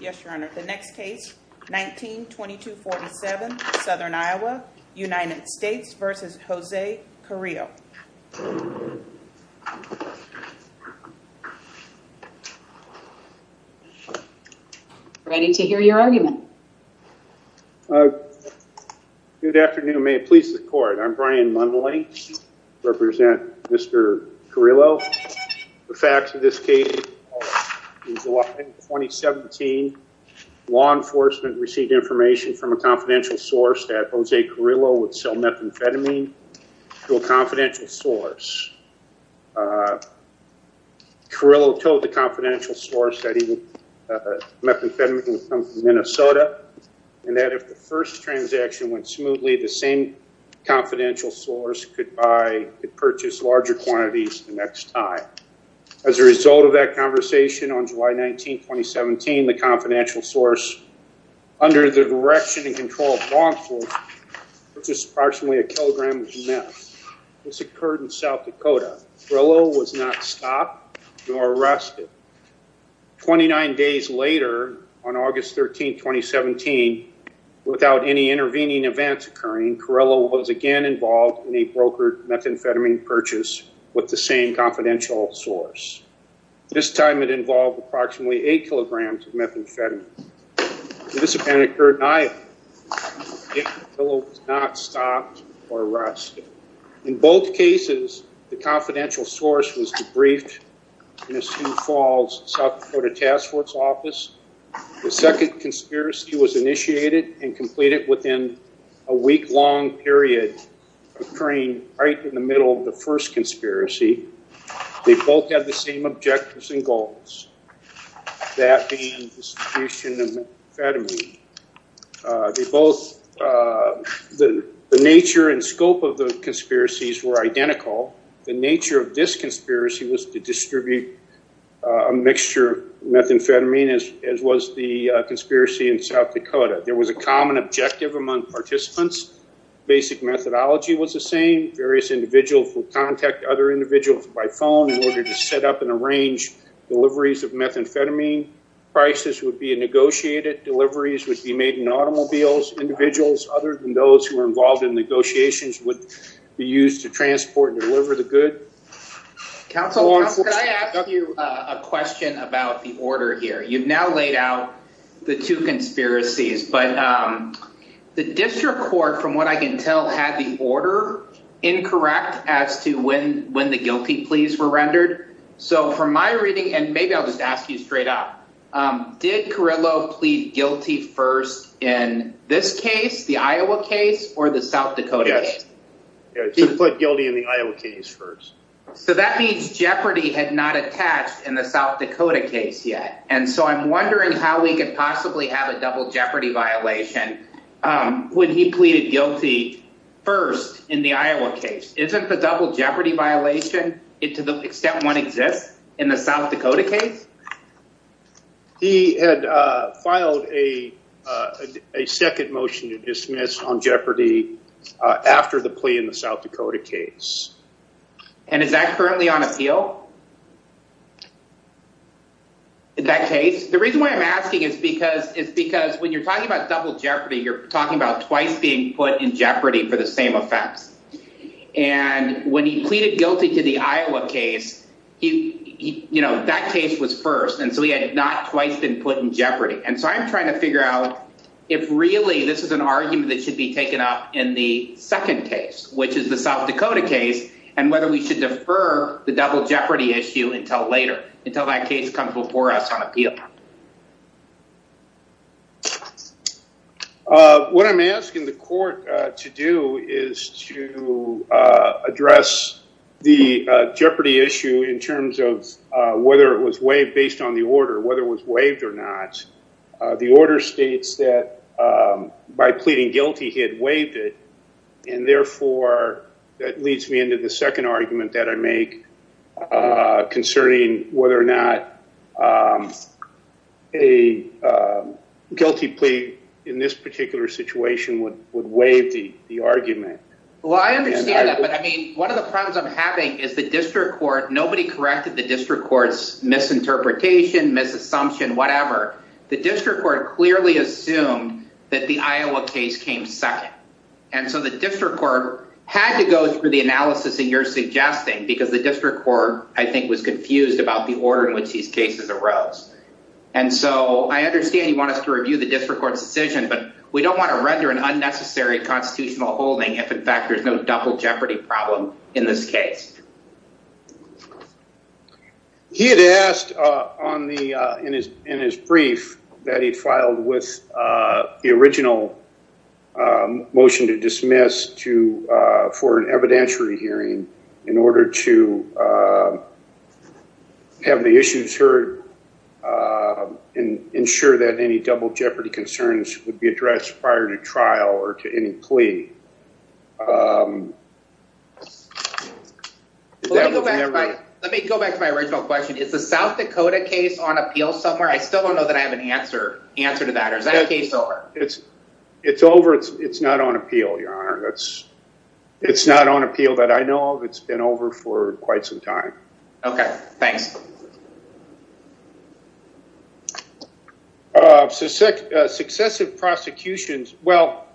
yes your honor the next case 1922 47 southern Iowa United States versus Jose Carrillo ready to hear your argument good afternoon may it please the court I'm Brian mumbling represent mr. Carrillo the facts of this case 2017 law enforcement received information from a confidential source that was a Carrillo would sell methamphetamine to a confidential source Carrillo told the confidential source that even methamphetamine from Minnesota and that the first transaction went smoothly the same confidential source could buy it purchased larger quantities the next time as a result of that conversation on July 19 2017 the confidential source under the direction and control of law enforcement which is approximately a kilogram of meth this occurred in South Dakota Carrillo was not stopped nor arrested 29 days later on August 13 2017 without any intervening events occurring Carrillo was again involved in a brokered methamphetamine purchase with the same confidential source this time it involved approximately eight kilograms of methamphetamine this apparently occurred in Iowa Carrillo was not stopped or arrested in both cases the confidential source was debriefed in a Sioux Falls South Dakota task force office the second conspiracy was initiated and completed within a week long period occurring right in the middle of the first conspiracy they both had the same objectives and goals that being distribution of methamphetamine they both the nature and scope of the conspiracies were identical the nature of this conspiracy was to distribute a mixture methamphetamine as was the conspiracy in South Dakota there was a common objective among participants basic methodology was the same various individuals will contact other individuals by phone in order to set up and arrange deliveries of methamphetamine prices would be a negotiated deliveries would be made in automobiles individuals other than those who are involved in negotiations would be used to transport and deliver the good a question about the order here you've now laid out the two conspiracies but the district court from what I can tell had the order incorrect as to when when the guilty pleas were rendered so from my reading and maybe I'll just ask you straight up did Carrillo plead guilty first in this case the Iowa case or the guilty in the Iowa case first so that means jeopardy had not attached in the South Dakota case yet and so I'm wondering how we could possibly have a double jeopardy violation when he pleaded guilty first in the Iowa case isn't the double jeopardy violation it to the extent one exists in the South Dakota case he had filed a a second motion to dismiss on jeopardy after the in the South Dakota case and is that currently on appeal in that case the reason why I'm asking is because it's because when you're talking about double jeopardy you're talking about twice being put in jeopardy for the same offense and when he pleaded guilty to the Iowa case you you know that case was first and so he had not twice been put in jeopardy and so I'm trying to figure out if really this is an argument that should be taken up in the second case which is the South Dakota case and whether we should defer the double jeopardy issue until later until that case comes before us on appeal what I'm asking the court to do is to address the jeopardy issue in terms of whether it was waived based on the order whether it was waived or not the order states that by pleading guilty he had waived it and therefore that leads me into the second argument that I make concerning whether or not a guilty plea in this particular situation would would waive the the argument well I understand that but I mean one of the problems I'm having is the district court nobody corrected the district courts misinterpretation misassumption whatever the district court clearly assumed that the Iowa case came second and so the district court had to go through the analysis and you're suggesting because the district court I think was confused about the order in which these cases arose and so I understand you want us to review the district court's decision but we don't want to render an unnecessary constitutional holding if in fact there's no double jeopardy problem in this case he had asked on the in his in that he'd filed with the original motion to dismiss to for an evidentiary hearing in order to have the issues heard and ensure that any double jeopardy concerns would be addressed prior to trial or to any plea let me go back to my original question it's a South Dakota case on appeal somewhere I still don't know that I have an answer answer to that or is that case over it's it's over it's it's not on appeal your honor that's it's not on appeal that I know of it's been over for quite some time okay thanks so sick successive prosecutions well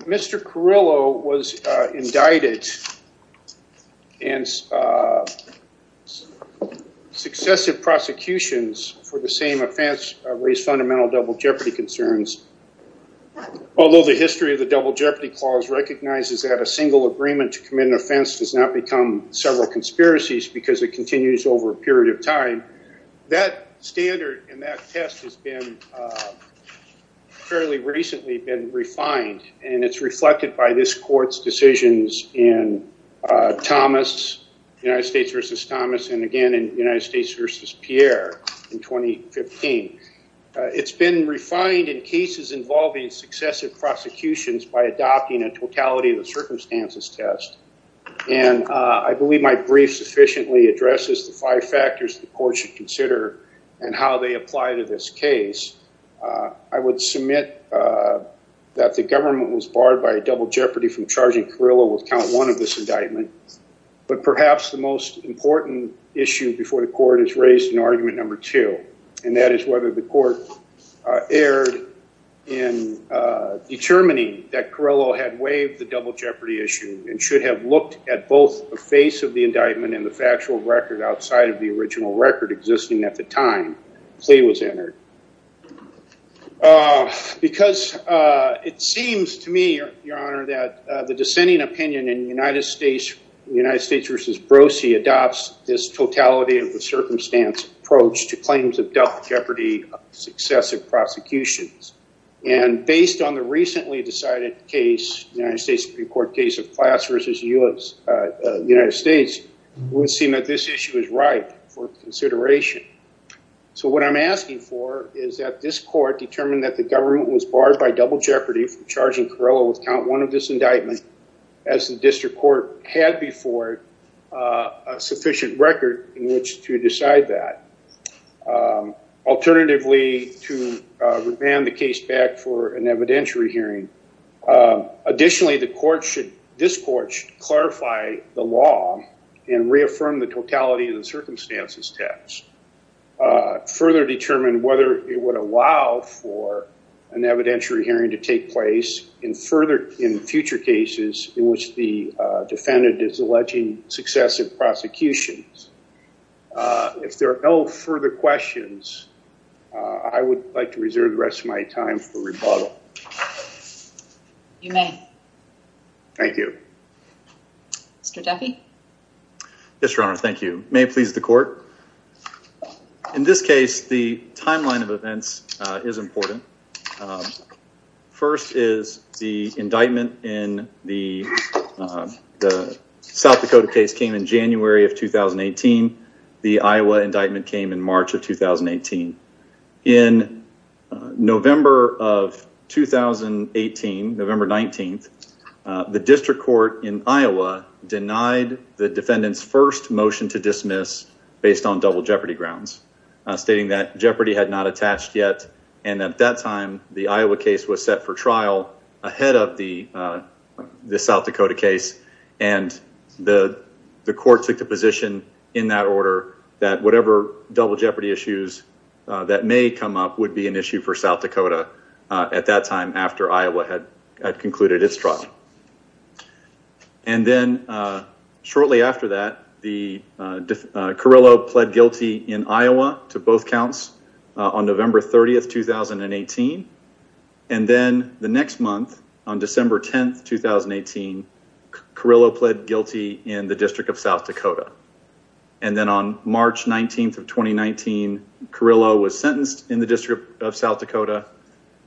mr. Carrillo was indicted and successive prosecutions for the same offense raised fundamental double jeopardy concerns although the history of the double jeopardy clause recognizes that a single agreement to commit an offense does not become several conspiracies because it continues over a period of time that standard and that test has been fairly recently been refined and it's reflected by this courts decisions in Thomas United States versus Thomas and again in United States versus Pierre in 2015 it's been refined in cases involving successive prosecutions by adopting a totality of the circumstances test and I believe my brief sufficiently addresses the five factors the court should consider and how they apply to this case I would submit that the government was barred by a double jeopardy from charging Carrillo with count one of this indictment but perhaps the most important issue before the court is raised in argument number two and that is whether the court erred in determining that Carrillo had waived the double jeopardy issue and should have looked at both the face of the indictment and the factual record outside of the original record existing at the time plea was entered because it seems to me your honor that the dissenting opinion in the United States versus Brosee adopts this totality of the circumstance approach to claims of double jeopardy successive prosecutions and based on the recently decided case United States Supreme Court case of class versus US the United States would seem that this issue is right for consideration so what I'm asking for is that this court determined that the government was barred by double jeopardy from charging Carrillo with count one of this indictment as the district court had before a sufficient record in which to decide that alternatively to revamp the case back for an evidentiary hearing additionally the court should discourse clarify the law and reaffirm the totality of the circumstances test further determine whether it would allow for an evidentiary hearing to take place in further in future cases in which the defendant is alleging successive prosecutions if there are no further questions I would like to reserve the time for rebuttal. You may. Thank you. Mr. Jaffe. Yes your honor thank you may please the court in this case the timeline of events is important first is the indictment in the South Dakota case came in January of 2018 the Iowa indictment came in March of 2018 in November of 2018 November 19th the district court in Iowa denied the defendants first motion to dismiss based on double jeopardy grounds stating that jeopardy had not attached yet and at that time the Iowa case was set for trial ahead of the the South Dakota case and the the court took the position in that order that whatever double jeopardy issues that may come up would be an issue for South Dakota at that time after Iowa had concluded its trial and then shortly after that the Carrillo pled guilty in Iowa to both counts on November 30th 2018 and then the next month on December 10th 2018 Carrillo pled guilty in the District of South Dakota and then on March 19th of 2019 Carrillo was sentenced in the District of South Dakota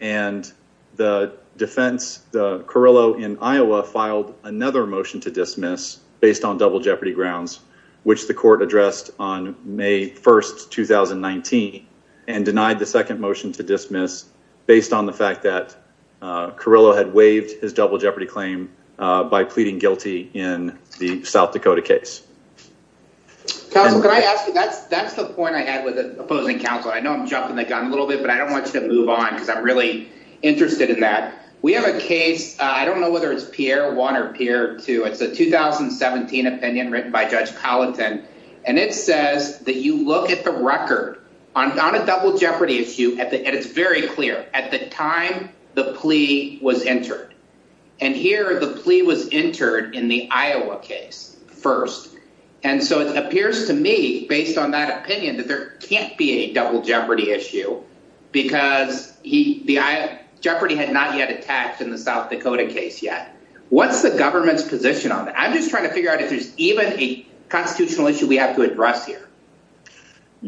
and the defense the Carrillo in Iowa filed another motion to dismiss based on double jeopardy grounds which the court addressed on May 1st 2019 and denied the second motion to dismiss based on the fact that Carrillo had waived his double jeopardy claim by pleading guilty in the South Dakota case that's the point I had with it opposing counsel I know I'm jumping the gun a little bit but I don't want you to move on because I'm really interested in that we have a case I don't know whether it's Pierre one or Pierre two it's a 2017 opinion written by Judge Palatine and it says that you look at the record on a double jeopardy issue at the end it's very clear at the time the plea was entered and here the plea was entered in the Iowa case first and so it appears to me based on that opinion that there can't be a double jeopardy issue because he the I jeopardy had not yet attacked in the South Dakota case yet what's the government's position on I'm just trying to figure out if there's even a constitutional issue we have to address here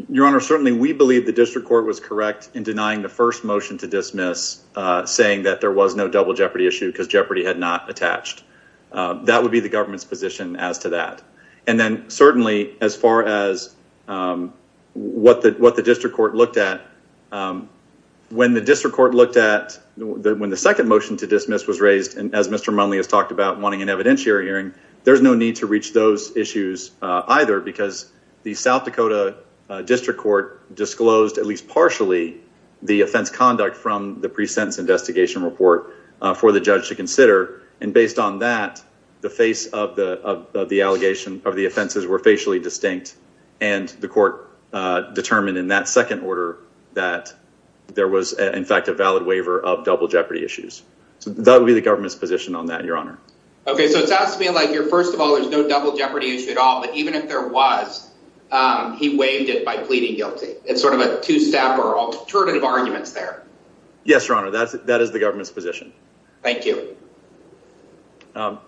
your honor certainly we believe the district court was correct in denying the first motion to dismiss saying that there was no double jeopardy issue because jeopardy had not attached that would be the government's position as to that and then certainly as far as what the what the district court looked at when the district court looked at when the second motion to dismiss was raised and as Mr. Munley has talked about wanting an evidentiary hearing there's no need to reach those issues either because the South Dakota District Court disclosed at least partially the offense conduct from the pre-sentence investigation report for the judge to consider and based on that the face of the the allegation of the offenses were facially distinct and the court determined in that second order that there was in fact a valid waiver of double jeopardy issues so that would be the government's position on that your honor okay so it sounds to me like you're first of all there's no double jeopardy issue at all but even if there was he waived it by pleading guilty it's sort of a two-step or alternative arguments there yes your honor that's that is the government's position thank you I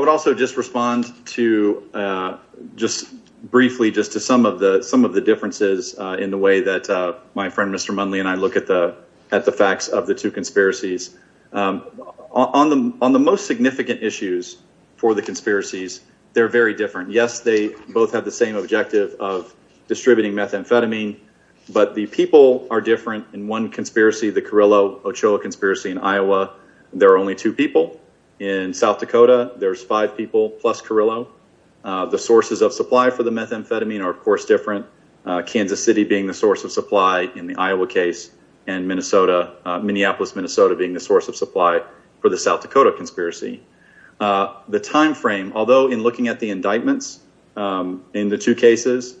would also just respond to just briefly just to some of the some of the differences in the way that my friend Mr. Munley and I look at the at the facts of the two conspiracies on them on the most significant issues for the conspiracies they're very different yes they both have the same objective of distributing methamphetamine but the people are different in one conspiracy the Carrillo Ochoa conspiracy in Iowa there are only two people in South Dakota there's five people plus Carrillo the sources of supply for the methamphetamine are of Kansas City being the source of supply in the Iowa case and Minnesota Minneapolis Minnesota being the source of supply for the South Dakota conspiracy the time frame although in looking at the indictments in the two cases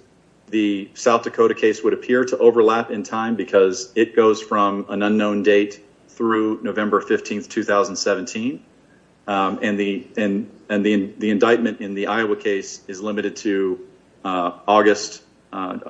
the South Dakota case would appear to overlap in time because it goes from an unknown date through November 15th 2017 and the and and the indictment in the Iowa case is limited to August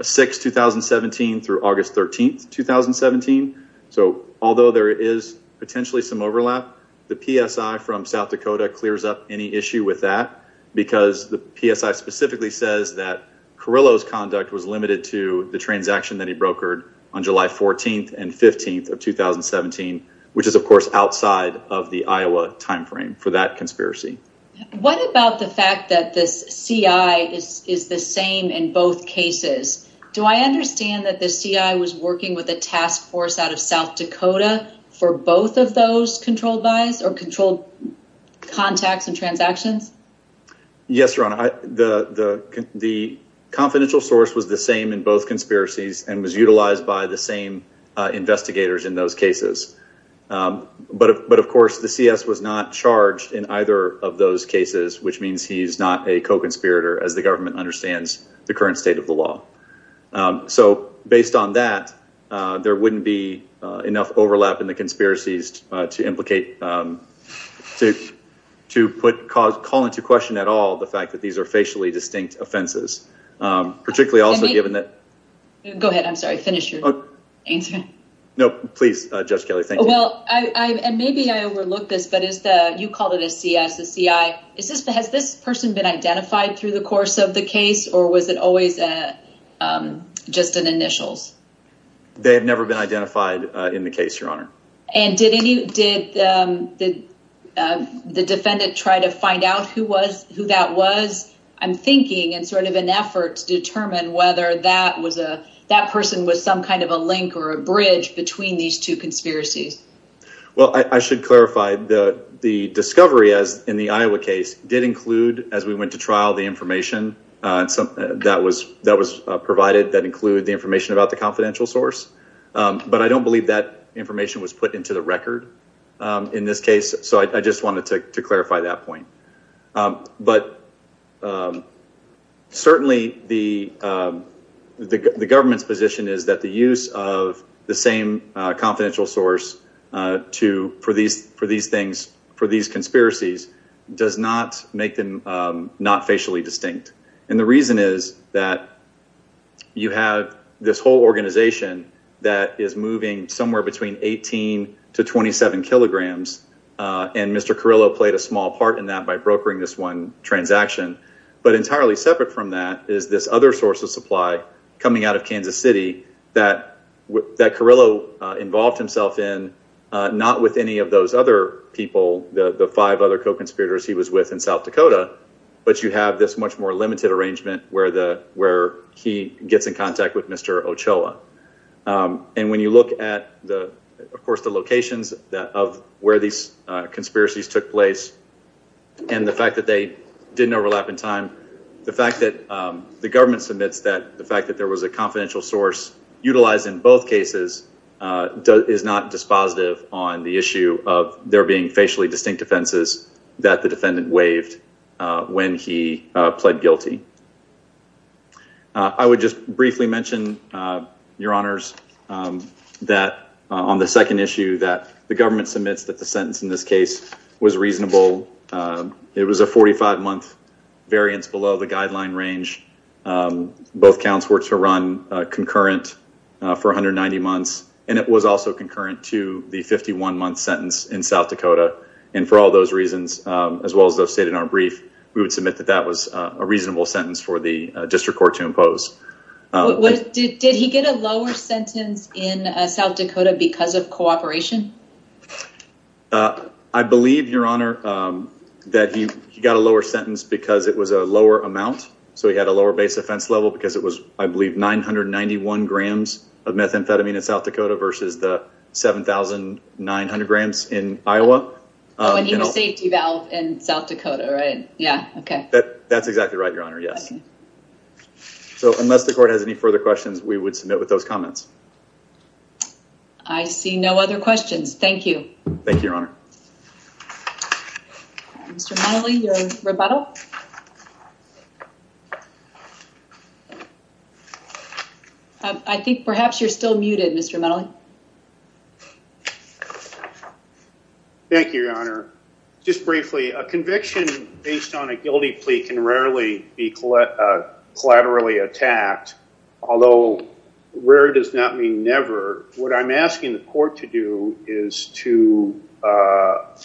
6 2017 through August 13th 2017 so although there is potentially some overlap the PSI from South Dakota clears up any issue with that because the PSI specifically says that Carrillo's conduct was limited to the transaction that he brokered on July 14th and 15th of 2017 which is of course outside of the Iowa time frame for that conspiracy what about the fact that this CI is the same in both cases do I understand that the CI was working with a task force out of South Dakota for both of those controlled buys or controlled contacts and transactions yes your honor I the the confidential source was the same in both conspiracies and was utilized by the same investigators in those cases but but of course the CS was not charged in which means he's not a co-conspirator as the government understands the current state of the law so based on that there wouldn't be enough overlap in the conspiracies to implicate to to put cause call into question at all the fact that these are facially distinct offenses particularly also given that go ahead I'm sorry finish your answer no please judge Kelly well I and maybe I this person been identified through the course of the case or was it always just an initials they have never been identified in the case your honor and did any did the defendant try to find out who was who that was I'm thinking and sort of an effort to determine whether that was a that person was some kind of a link or a bridge between these two conspiracies well I should clarify the the discovery as in the Iowa case did include as we went to trial the information and some that was that was provided that include the information about the confidential source but I don't believe that information was put into the record in this case so I just wanted to clarify that point but certainly the the government's position is that the use of the same confidential source to for these for these things for these conspiracies does not make them not facially distinct and the reason is that you have this whole organization that is moving somewhere between 18 to 27 kilograms and mr. Carrillo played a small part in that by brokering this one transaction but entirely separate from that is this other source of supply coming out of not with any of those other people the five other co-conspirators he was with in South Dakota but you have this much more limited arrangement where the where he gets in contact with mr. Ochoa and when you look at the of course the locations of where these conspiracies took place and the fact that they didn't overlap in time the fact that the government submits that the fact that there was a confidential source utilized in both cases is not dispositive on the issue of there being facially distinct offenses that the defendant waived when he pled guilty I would just briefly mention your honors that on the second issue that the government submits that the sentence in this case was reasonable it was a 45 month variance below the guideline range both counts were to run concurrent for 190 months and it was also concurrent to the 51 month sentence in South Dakota and for all those reasons as well as those stated in our brief we would submit that that was a reasonable sentence for the district court to impose. Did he get a lower sentence in South Dakota because of cooperation? I believe your honor that he got a lower sentence because it was a lower amount so he had a lower base offense level because it was I believe 991 grams of methamphetamine in South Dakota versus the 7,900 grams in Iowa. Oh and he was safety valve in South Dakota right yeah okay that that's exactly right your honor yes so unless the court has any further questions we would submit with those comments. I see no other questions thank you. Thank you your honor. Mr. Medley your rebuttal. I think perhaps you're still muted Mr. Medley. Thank you your honor just briefly a conviction based on a guilty plea can rarely be collaterally attacked although rare does not mean ever what I'm asking the court to do is to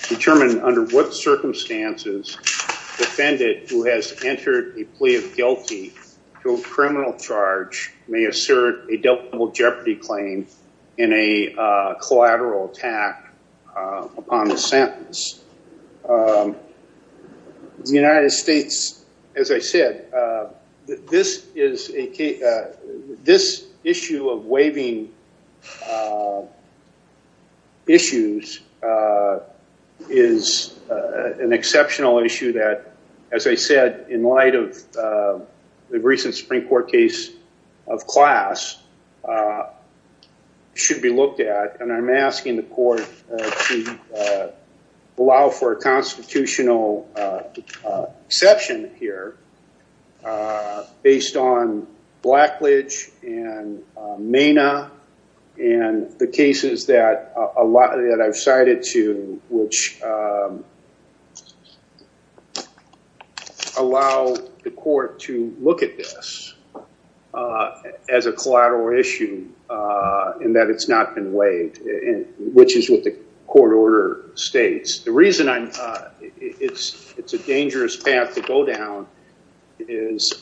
determine under what circumstances defendant who has entered a plea of guilty to a criminal charge may assert a double jeopardy claim in a collateral attack upon the sentence. The United States Supreme Court issues is an exceptional issue that as I said in light of the recent Supreme Court case of class should be looked at and I'm asking the court to allow for a and the cases that a lot that I've cited to which allow the court to look at this as a collateral issue and that it's not been weighed in which is what the court order states. The reason I'm it's it's a dangerous path to go down is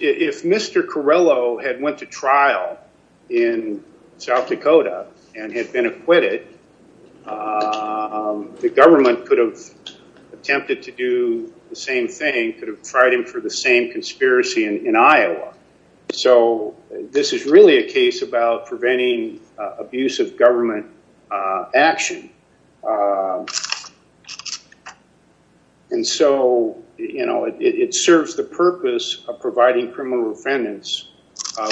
if Mr. Corrello had went to trial in South Dakota and had been acquitted the government could have attempted to do the same thing could have tried him for the same conspiracy in Iowa so this is really a case about preventing abuse of it serves the purpose of providing criminal defendants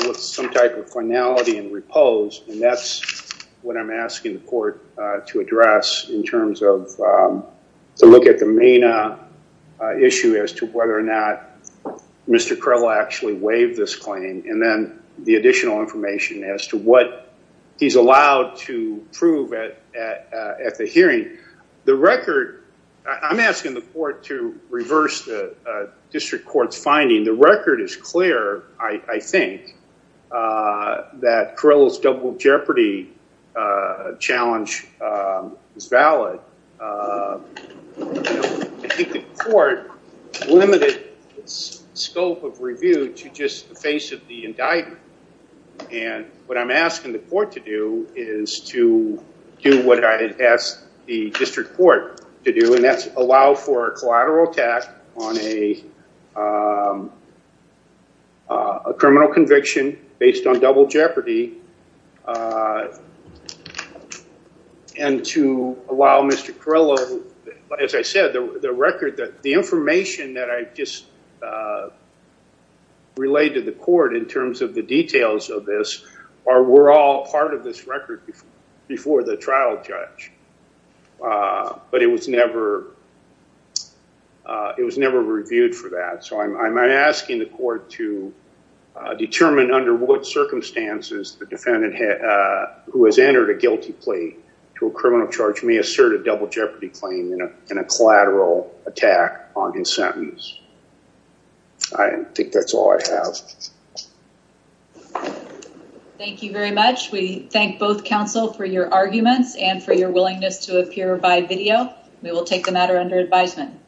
with some type of finality and repose and that's what I'm asking the court to address in terms of to look at the main issue as to whether or not Mr. Corrello actually waived this claim and then the additional information as to what he's allowed to reverse the district court's finding the record is clear I think that Corrello's double jeopardy challenge is valid. I think the court limited scope of review to just the face of the indictment and what I'm asking the court to do is to do what I had asked the district court to do and that's allow for a attack on a criminal conviction based on double jeopardy and to allow Mr. Corrello as I said the record that the information that I just relayed to the court in terms of the details of this are we're all part of this record before the trial judge but it was never it was never reviewed for that so I'm asking the court to determine under what circumstances the defendant who has entered a guilty plea to a criminal charge may assert a double jeopardy claim in a collateral attack on his sentence. I think that's all I have. Thank you very much we thank both counsel for your arguments and for your willingness to appear by video we will take the matter under advisement.